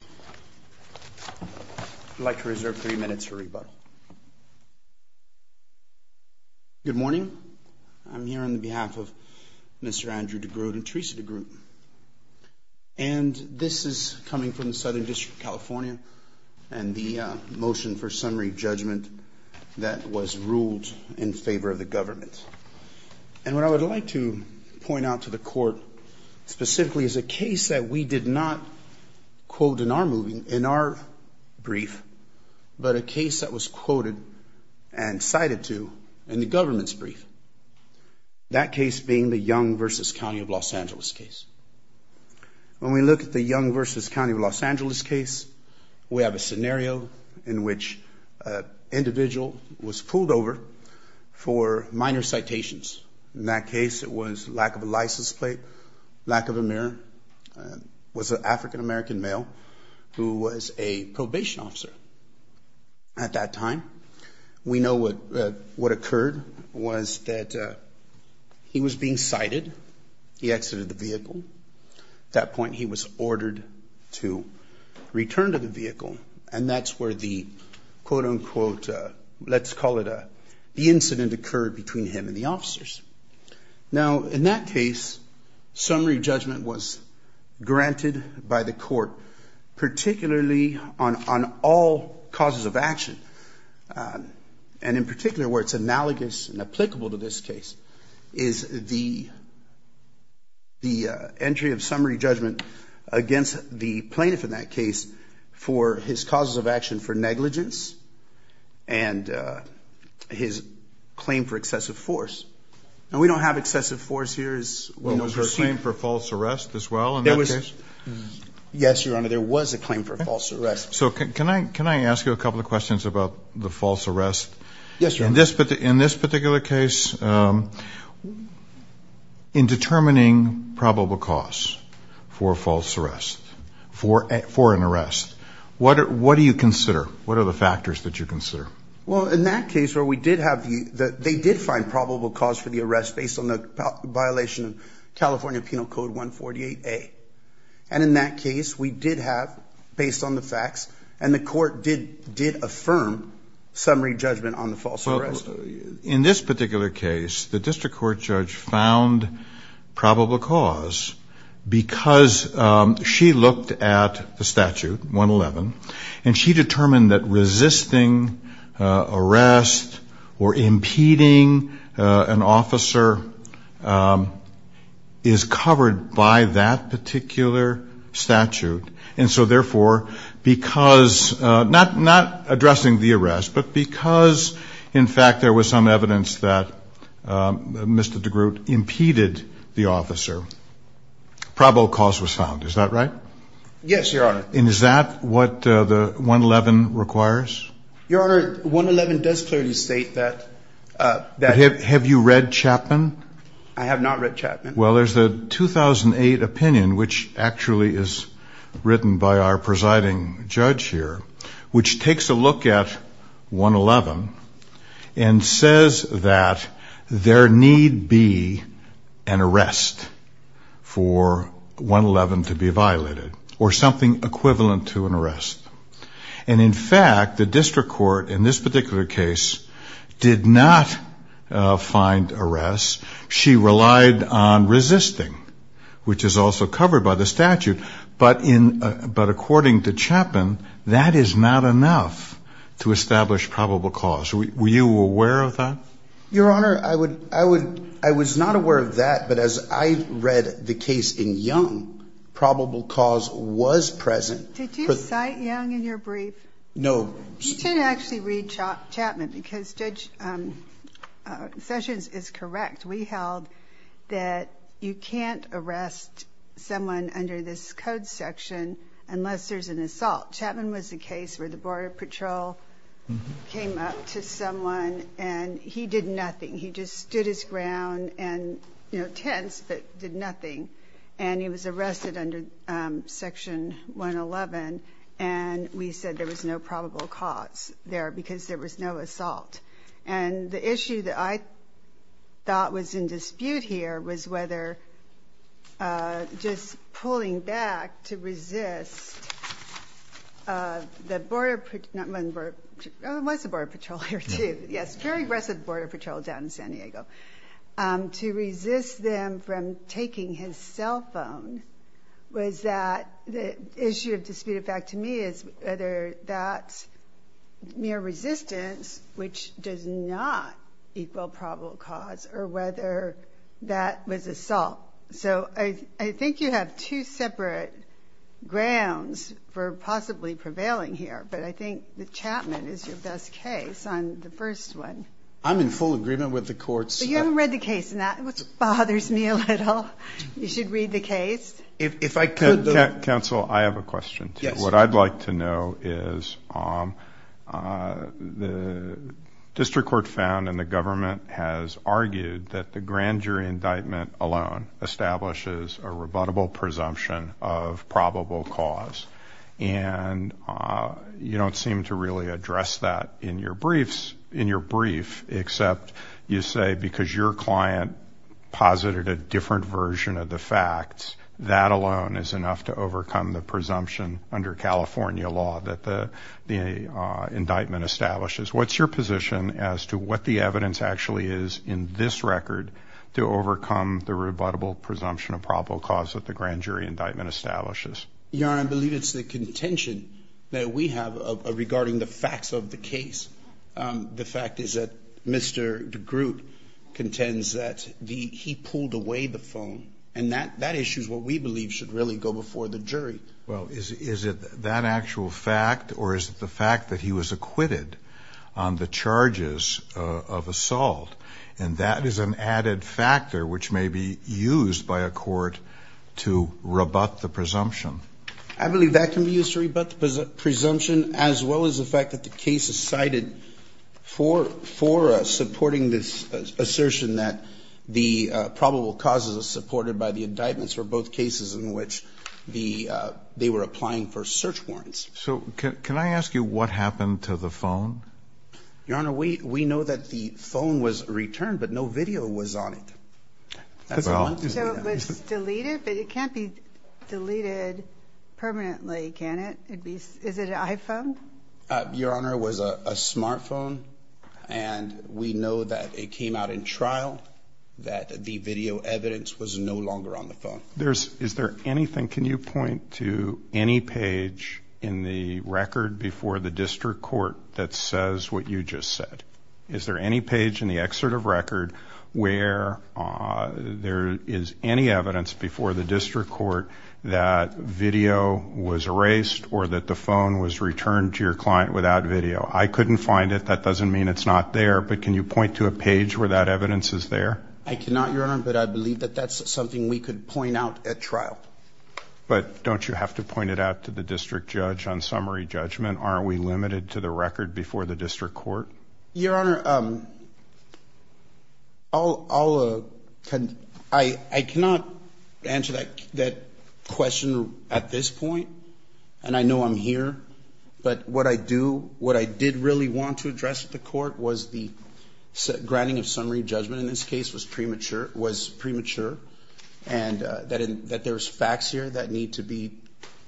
I would like to reserve three minutes for rebuttal. Good morning. I'm here on behalf of Mr. Andrew DeGroot and Theresa DeGroot. And this is coming from the Southern District of California and the motion for summary judgment that was ruled in favor of the government. And what I would like to point out to the court specifically is a case that we did not quote in our brief, but a case that was quoted and cited to in the government's brief. That case being the Young v. County of Los Angeles case. When we look at the Young v. County of Los Angeles case, we have a scenario in which an individual was pulled over for minor citations. In that case, it was lack of a license plate, lack of a mirror, was an African-American male who was a probation officer at that time. We know what occurred was that he was being cited. He exited the vehicle. At that point, he was ordered to return to the vehicle. And that's where the quote, unquote, let's call it the incident occurred between him and the officers. Now, in that case, summary judgment was granted by the court, particularly on all causes of action. And in particular, where it's analogous and applicable to this case, is the entry of summary judgment against the plaintiff in that case for his causes of action for negligence and his claim for excessive force. Now, we don't have excessive force here. Was there a claim for false arrest as well in that case? Yes, Your Honor, there was a claim for false arrest. So can I ask you a couple of questions about the false arrest? Yes, Your Honor. In this particular case, in determining probable cause for false arrest, for an arrest, what do you consider? What are the factors that you consider? Well, in that case where we did have the ‑‑ they did find probable cause for the arrest based on the violation of California Penal Code 148A. And in that case, we did have, based on the facts, and the court did affirm summary judgment on the false arrest. In this particular case, the district court judge found probable cause because she looked at the statute, 111, and she determined that resisting arrest or impeding an officer is covered by that particular statute. And so, therefore, because ‑‑ not addressing the arrest, but because, in fact, there was some evidence that Mr. DeGroote impeded the officer, probable cause was found. Is that right? Yes, Your Honor. And is that what the 111 requires? Your Honor, 111 does clearly state that ‑‑ Have you read Chapman? I have not read Chapman. Well, there's a 2008 opinion, which actually is written by our presiding judge here, which takes a look at 111 and says that there need be an arrest for 111 to be violated, or something equivalent to an arrest. And, in fact, the district court in this particular case did not find arrest. She relied on resisting, which is also covered by the statute. But according to Chapman, that is not enough to establish probable cause. Were you aware of that? Your Honor, I was not aware of that, but as I read the case in Young, probable cause was present. Did you cite Young in your brief? No. You can actually read Chapman, because Judge Sessions is correct. We held that you can't arrest someone under this code section unless there's an assault. Chapman was the case where the Border Patrol came up to someone, and he did nothing. He just stood his ground and, you know, tense, but did nothing. And he was arrested under Section 111, and we said there was no probable cause there because there was no assault. And the issue that I thought was in dispute here was whether just pulling back to resist the Border Patrol. There was a Border Patrol here, too. Yes, very aggressive Border Patrol down in San Diego. To resist them from taking his cell phone was that the issue of dispute, in fact, to me, is whether that mere resistance, which does not equal probable cause, or whether that was assault. So I think you have two separate grounds for possibly prevailing here, but I think that Chapman is your best case on the first one. I'm in full agreement with the courts. But you haven't read the case, and that bothers me a little. You should read the case. Counsel, I have a question, too. What I'd like to know is the district court found, and the government has argued, that the grand jury indictment alone establishes a rebuttable presumption of probable cause. And you don't seem to really address that in your brief, except you say, because your client posited a different version of the facts, that alone is enough to overcome the presumption under California law that the indictment establishes. What's your position as to what the evidence actually is in this record to overcome the rebuttable presumption of probable cause that the grand jury indictment establishes? Your Honor, I believe it's the contention that we have regarding the facts of the case. The fact is that Mr. DeGroote contends that he pulled away the phone, and that issue is what we believe should really go before the jury. Well, is it that actual fact, or is it the fact that he was acquitted on the charges of assault? And that is an added factor which may be used by a court to rebut the presumption. I believe that can be used to rebut the presumption, as well as the fact that the case is cited for supporting this assertion that the probable causes are supported by the indictments for both cases in which they were applying for search warrants. So can I ask you what happened to the phone? Your Honor, we know that the phone was returned, but no video was on it. So it was deleted, but it can't be deleted permanently, can it? Is it an iPhone? Your Honor, it was a smartphone, and we know that it came out in trial, that the video evidence was no longer on the phone. Is there anything, can you point to any page in the record before the district court that says what you just said? Is there any page in the excerpt of record where there is any evidence before the district court that video was erased or that the phone was returned to your client without video? I couldn't find it. That doesn't mean it's not there, but can you point to a page where that evidence is there? I cannot, Your Honor, but I believe that that's something we could point out at trial. But don't you have to point it out to the district judge on summary judgment? Aren't we limited to the record before the district court? Your Honor, I cannot answer that question at this point, and I know I'm here, but what I did really want to address at the court was the granting of summary judgment in this case was premature and that there's facts here that need to be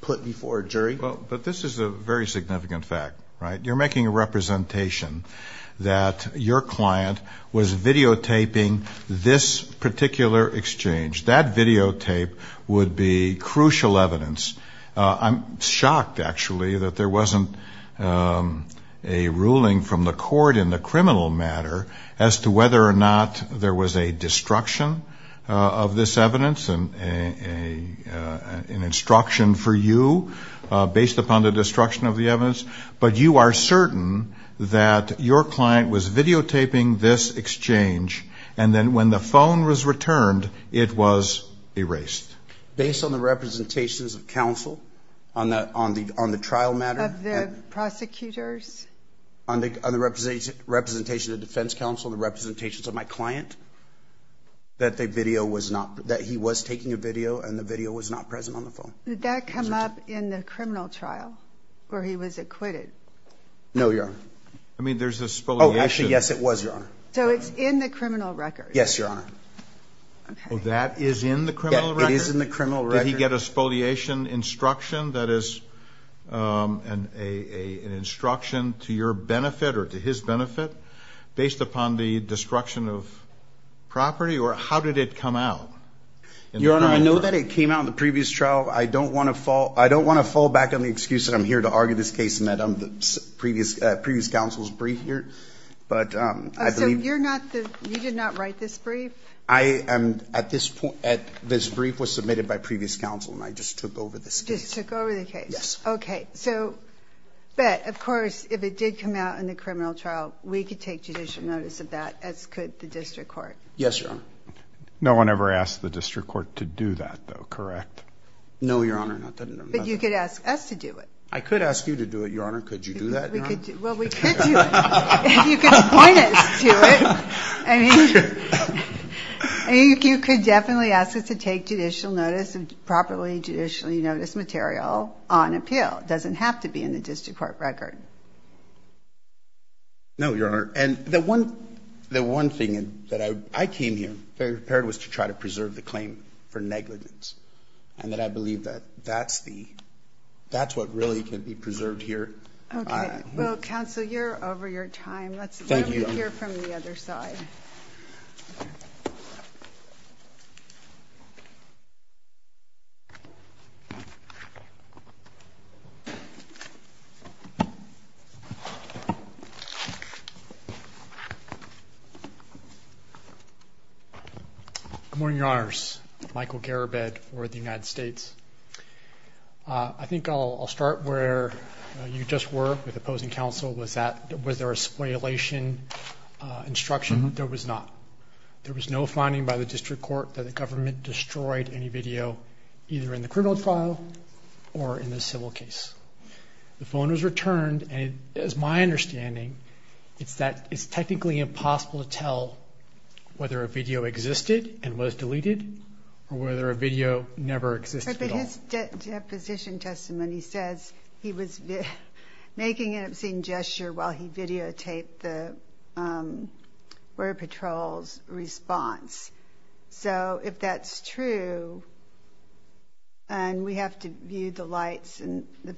put before a jury. But this is a very significant fact, right? You're making a representation that your client was videotaping this particular exchange. That videotape would be crucial evidence. I'm shocked, actually, that there wasn't a ruling from the court in the criminal matter as to whether or not there was a destruction of this evidence, an instruction for you based upon the destruction of the evidence. But you are certain that your client was videotaping this exchange, and then when the phone was returned, it was erased. Based on the representations of counsel on the trial matter? Of the prosecutors? On the representation of the defense counsel and the representations of my client, that he was taking a video and the video was not present on the phone. Did that come up in the criminal trial where he was acquitted? No, Your Honor. I mean, there's a spoliation. Oh, actually, yes, it was, Your Honor. So it's in the criminal record? Yes, Your Honor. Oh, that is in the criminal record? Yes, it is in the criminal record. Did he get a spoliation instruction that is an instruction to your benefit or to his benefit based upon the destruction of property? Or how did it come out? Your Honor, I know that it came out in the previous trial. I don't want to fall back on the excuse that I'm here to argue this case in the previous counsel's brief here. So you did not write this brief? This brief was submitted by previous counsel, and I just took over this case. Just took over the case. Yes. Okay. But, of course, if it did come out in the criminal trial, we could take judicial notice of that, as could the district court. Yes, Your Honor. No one ever asked the district court to do that, though, correct? No, Your Honor, not that I know of. But you could ask us to do it. I could ask you to do it, Your Honor. Could you do that, Your Honor? Well, we could do it. You could appoint us to it. I mean, you could definitely ask us to take judicial notice of properly judicially noticed material on appeal. It doesn't have to be in the district court record. No, Your Honor. And the one thing that I came here prepared was to try to preserve the claim for negligence, and that I believe that that's the – that's what really can be preserved here. Okay. Well, counsel, you're over your time. Thank you. Let's hear from the other side. Good morning, Your Honors. Michael Garabed for the United States. I think I'll start where you just were with opposing counsel, was that – was there a spoliation instruction? There was not. There was no finding by the district court that the government destroyed any video either in the criminal trial or in the civil case. The phone was returned, and it is my understanding, it's that it's technically impossible to tell whether a video existed and was deleted or whether a video never exists at all. But his deposition testimony says he was making an obscene gesture while he videotaped the Border Patrol's response. So if that's true, and we have to view the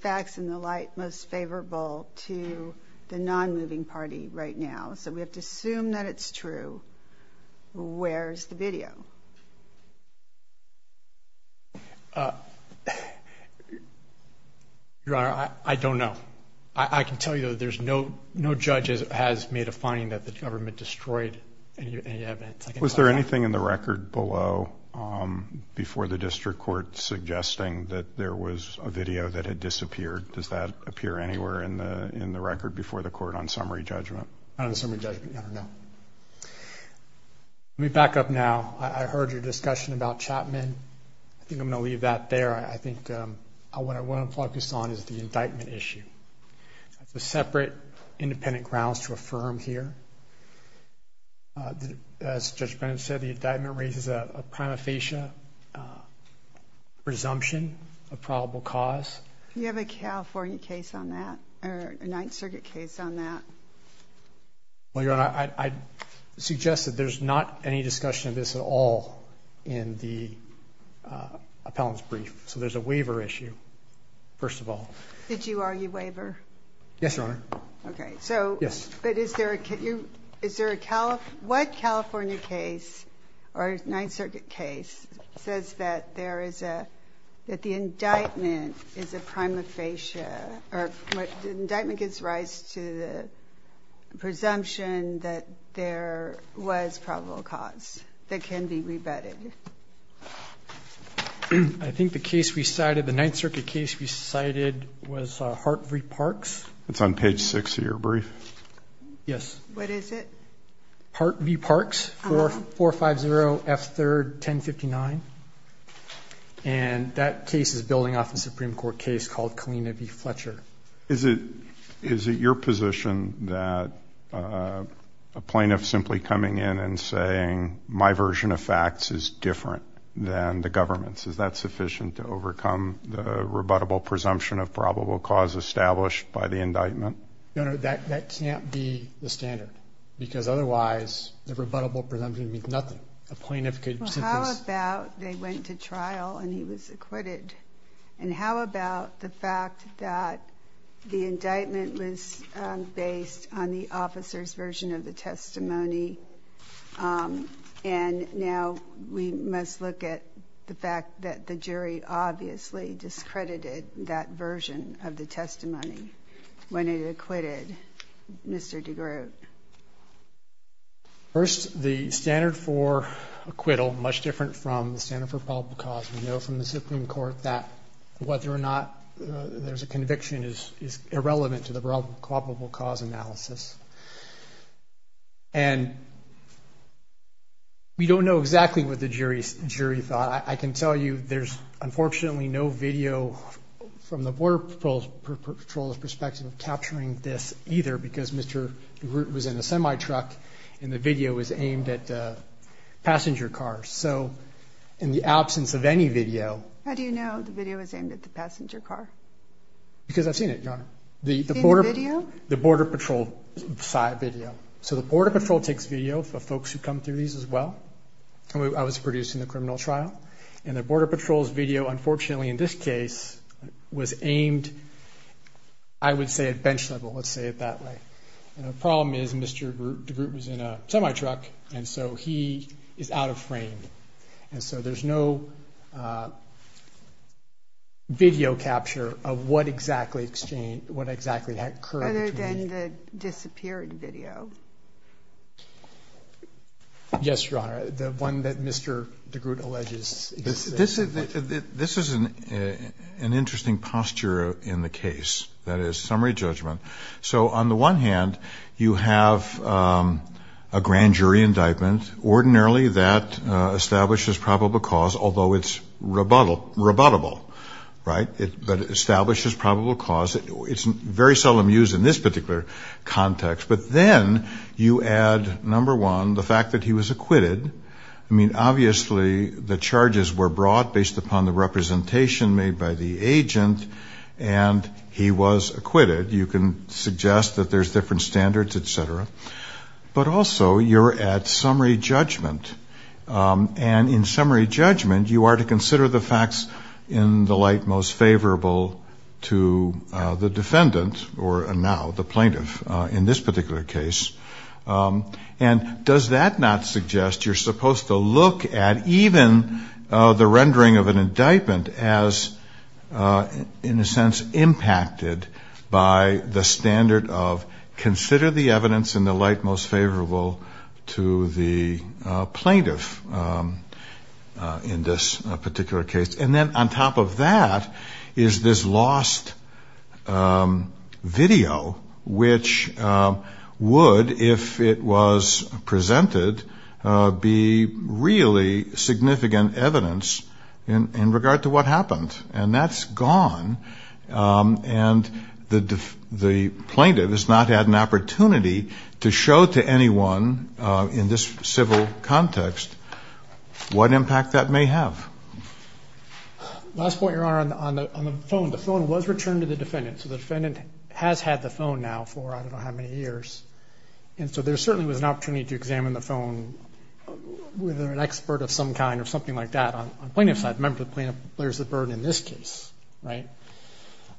facts in the light most favorable to the non-moving party right now, so we have to assume that it's true, where is the video? Your Honor, I don't know. I can tell you that there's no judge has made a finding that the government destroyed any evidence. Was there anything in the record below before the district court suggesting that there was a video that had disappeared? Does that appear anywhere in the record before the court on summary judgment? On the summary judgment, I don't know. Let me back up now. I heard your discussion about Chapman. I think I'm going to leave that there. I think what I want to focus on is the indictment issue. There's separate independent grounds to affirm here. As Judge Bennett said, the indictment raises a prima facie presumption of probable cause. Do you have a California case on that, or a Ninth Circuit case on that? Well, Your Honor, I suggest that there's not any discussion of this at all in the appellant's brief. So there's a waiver issue, first of all. Did you argue waiver? Yes, Your Honor. Okay. Yes. But is there a California case, or a Ninth Circuit case, that says that the indictment is a prima facie, or the indictment gives rise to the presumption that there was probable cause that can be rebutted? I think the case we cited, the Ninth Circuit case we cited, was Hart v. Parks. It's on page 6 of your brief. Yes. What is it? Hart v. Parks, 4450 F. 3rd, 1059. And that case is building off a Supreme Court case called Kalina v. Fletcher. Is it your position that a plaintiff simply coming in and saying, my version of facts is different than the government's, is that sufficient to overcome the rebuttable presumption of probable cause established by the indictment? Your Honor, that can't be the standard. Because otherwise, the rebuttable presumption means nothing. A plaintiff could simply say. Well, how about they went to trial and he was acquitted? And how about the fact that the indictment was based on the officer's version of the testimony, and now we must look at the fact that the jury obviously discredited that he was acquitted. Mr. DeGroote. First, the standard for acquittal, much different from the standard for probable cause. We know from the Supreme Court that whether or not there's a conviction is irrelevant to the probable cause analysis. And we don't know exactly what the jury thought. I can tell you there's unfortunately no video from the Border Patrol's perspective capturing this either, because Mr. DeGroote was in a semi truck and the video was aimed at passenger cars. So in the absence of any video. How do you know the video is aimed at the passenger car? Because I've seen it, Your Honor. You've seen the video? The Border Patrol side video. So the Border Patrol takes video of folks who come through these as well. I was produced in the criminal trial. And the Border Patrol's video, unfortunately in this case, was aimed, I would say, at bench level. Let's say it that way. And the problem is Mr. DeGroote was in a semi truck, and so he is out of frame. And so there's no video capture of what exactly occurred. Other than the disappeared video. Yes, Your Honor. The one that Mr. DeGroote alleges. This is an interesting posture in the case. That is, summary judgment. So on the one hand, you have a grand jury indictment. Ordinarily that establishes probable cause, although it's rebuttable, right? But it establishes probable cause. It's very seldom used in this particular context. But then you add, number one, the fact that he was acquitted. I mean, obviously the charges were brought based upon the representation made by the agent. And he was acquitted. You can suggest that there's different standards, et cetera. But also you're at summary judgment. And in summary judgment, you are to consider the facts in the light most favorable to the defendant, or now the plaintiff, in this particular case. And does that not suggest you're supposed to look at even the rendering of an indictment as, in a sense, impacted by the standard of consider the evidence in the light most favorable to the plaintiff in this particular case? And then on top of that is this lost video, which would, if it was presented, be really significant evidence in regard to what happened. And that's gone. And the plaintiff has not had an opportunity to show to anyone in this civil context what impact that may have. Last point, Your Honor, on the phone. The phone was returned to the defendant. So the defendant has had the phone now for I don't know how many years. And so there certainly was an opportunity to examine the phone with an expert of some kind or something like that. On the plaintiff's side, the plaintiff bears the burden in this case, right?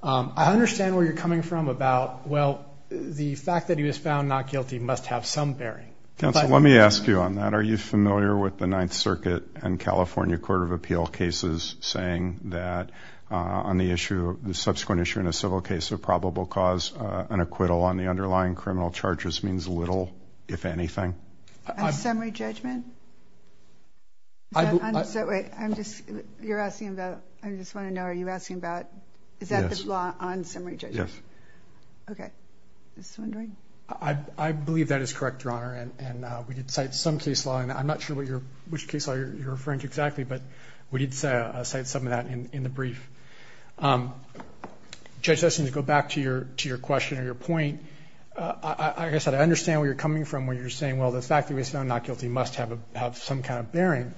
I understand where you're coming from about, well, the fact that he was found not guilty must have some bearing. Counsel, let me ask you on that. Are you familiar with the Ninth Circuit and California Court of Appeal cases saying that on the issue, the subsequent issue in a civil case of probable cause, an acquittal on the underlying criminal charges means little, if anything? On summary judgment? Wait, I'm just, you're asking about, I just want to know, are you asking about, is that the law on summary judgment? Yes. Okay. I believe that is correct, Your Honor. And we did cite some case law, and I'm not sure which case law you're referring to exactly, but we did cite some of that in the brief. Judge Esten, to go back to your question or your point, like I said, I understand where you're coming from when you're saying, well, the fact that he was found not guilty must have some kind of bearing.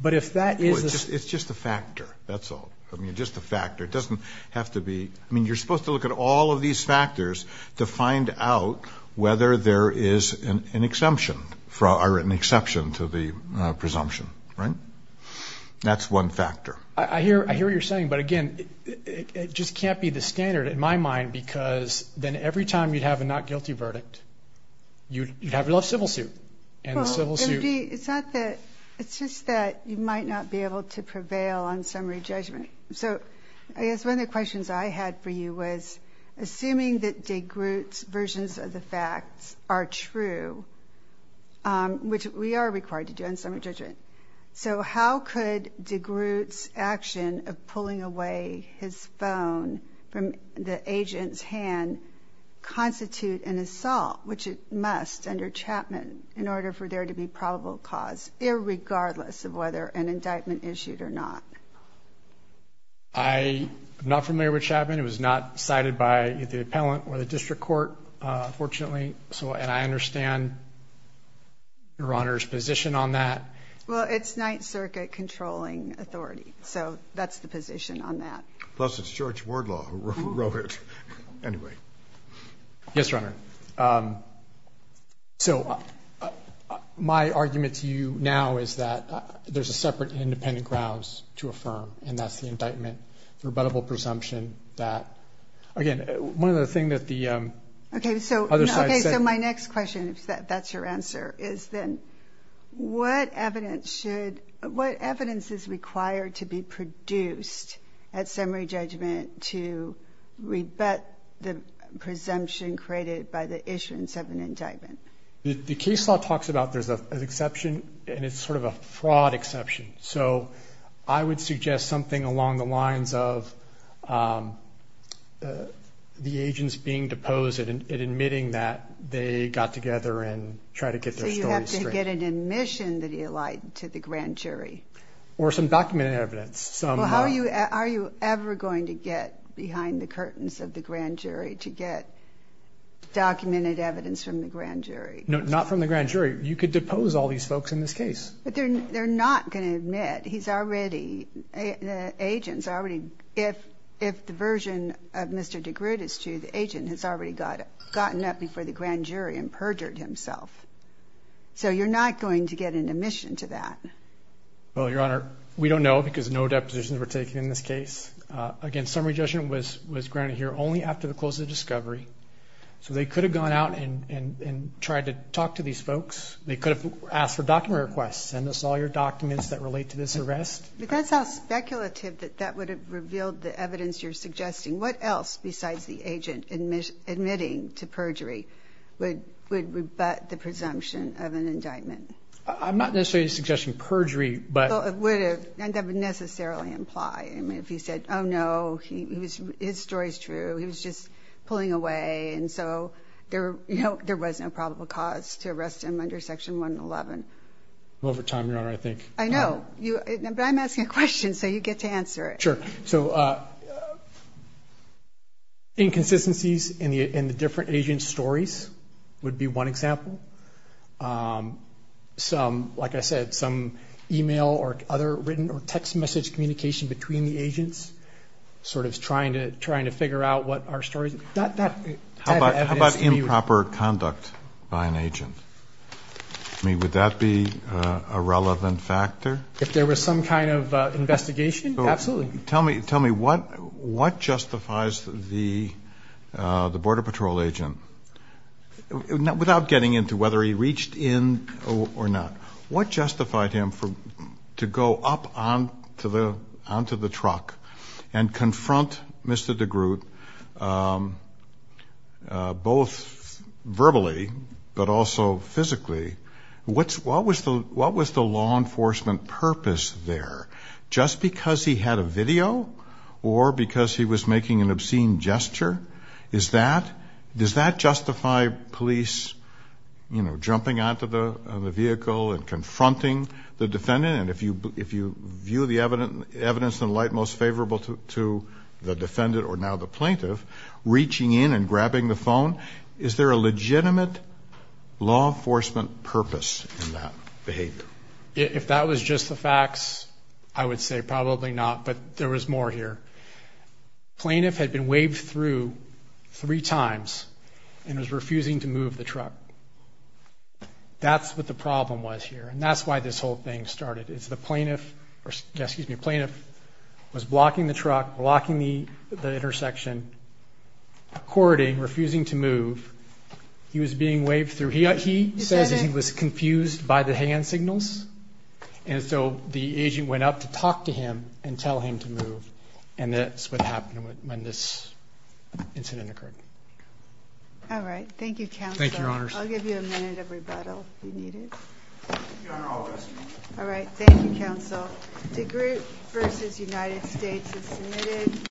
But if that is the... It's just a factor. That's all. I mean, just a factor. It doesn't have to be, I mean, you're supposed to look at all of these factors to find out whether there is an exception, or an exception to the presumption, right? That's one factor. I hear what you're saying, but, again, it just can't be the standard in my mind, because then every time you'd have a not guilty verdict, you'd have a civil suit, and the civil suit... It's just that you might not be able to prevail on summary judgment. So I guess one of the questions I had for you was, assuming that DeGroote's versions of the facts are true, which we are required to do on summary judgment, so how could DeGroote's action of pulling away his phone from the agent's hand constitute an assault, which it must under Chapman, in order for there to be probable cause, irregardless of whether an indictment issued or not? I am not familiar with Chapman. It was not cited by the appellant or the district court, fortunately, and I understand Your Honor's position on that. Well, it's Ninth Circuit controlling authority, so that's the position on that. Plus it's George Wardlaw who wrote it. Anyway. Yes, Your Honor. So my argument to you now is that there's separate independent grounds to affirm, and that's the indictment, the rebuttable presumption that, again, one of the things that the other side said. Okay, so my next question, if that's your answer, is then what evidence is required to be produced at summary judgment to rebut the presumption created by the issuance of an indictment? The case law talks about there's an exception, and it's sort of a fraud exception. So I would suggest something along the lines of the agents being deposed and admitting that they got together and tried to get their stories straight. So you have to get an admission that he lied to the grand jury. Or some documented evidence. Are you ever going to get behind the curtains of the grand jury to get documented evidence from the grand jury? No, not from the grand jury. You could depose all these folks in this case. But they're not going to admit he's already, the agents already, if the version of Mr. DeGroote is true, the agent has already gotten up before the grand jury and perjured himself. So you're not going to get an admission to that. Well, Your Honor, we don't know because no depositions were taken in this case. Again, summary judgment was granted here only after the close of the discovery. So they could have gone out and tried to talk to these folks. They could have asked for document requests, send us all your documents that relate to this arrest. But that sounds speculative that that would have revealed the evidence you're suggesting. What else besides the agent admitting to perjury would rebut the presumption of an indictment? I'm not necessarily suggesting perjury. Well, it would have, and that would necessarily imply. I mean, if he said, oh, no, his story's true, he was just pulling away, and so there was no probable cause to arrest him under Section 111. Over time, Your Honor, I think. I know. But I'm asking a question, so you get to answer it. Sure. So inconsistencies in the different agents' stories would be one example. Like I said, some e-mail or other written or text message communication between the agents, sort of trying to figure out what our story is. How about improper conduct by an agent? I mean, would that be a relevant factor? If there was some kind of investigation, absolutely. Tell me what justifies the Border Patrol agent, without getting into whether he reached in or not, what justified him to go up onto the truck and confront Mr. DeGroote, both verbally but also physically? What was the law enforcement purpose there? Just because he had a video or because he was making an obscene gesture? Does that justify police, you know, jumping onto the vehicle and confronting the defendant? And if you view the evidence in the light most favorable to the defendant or now the plaintiff, reaching in and grabbing the phone, is there a legitimate law enforcement purpose in that behavior? If that was just the facts, I would say probably not, but there was more here. Plaintiff had been waved through three times and was refusing to move the truck. That's what the problem was here, and that's why this whole thing started. It's the plaintiff was blocking the truck, blocking the intersection, according, refusing to move. He was being waved through. He says he was confused by the hand signals, and so the agent went up to talk to him and tell him to move. And that's what happened when this incident occurred. All right. Thank you, Counsel. Thank you, Your Honors. I'll give you a minute of rebuttal if you need it. Your Honor, I'll arrest you. All right. Thank you, Counsel. DeGroote v. United States is submitted.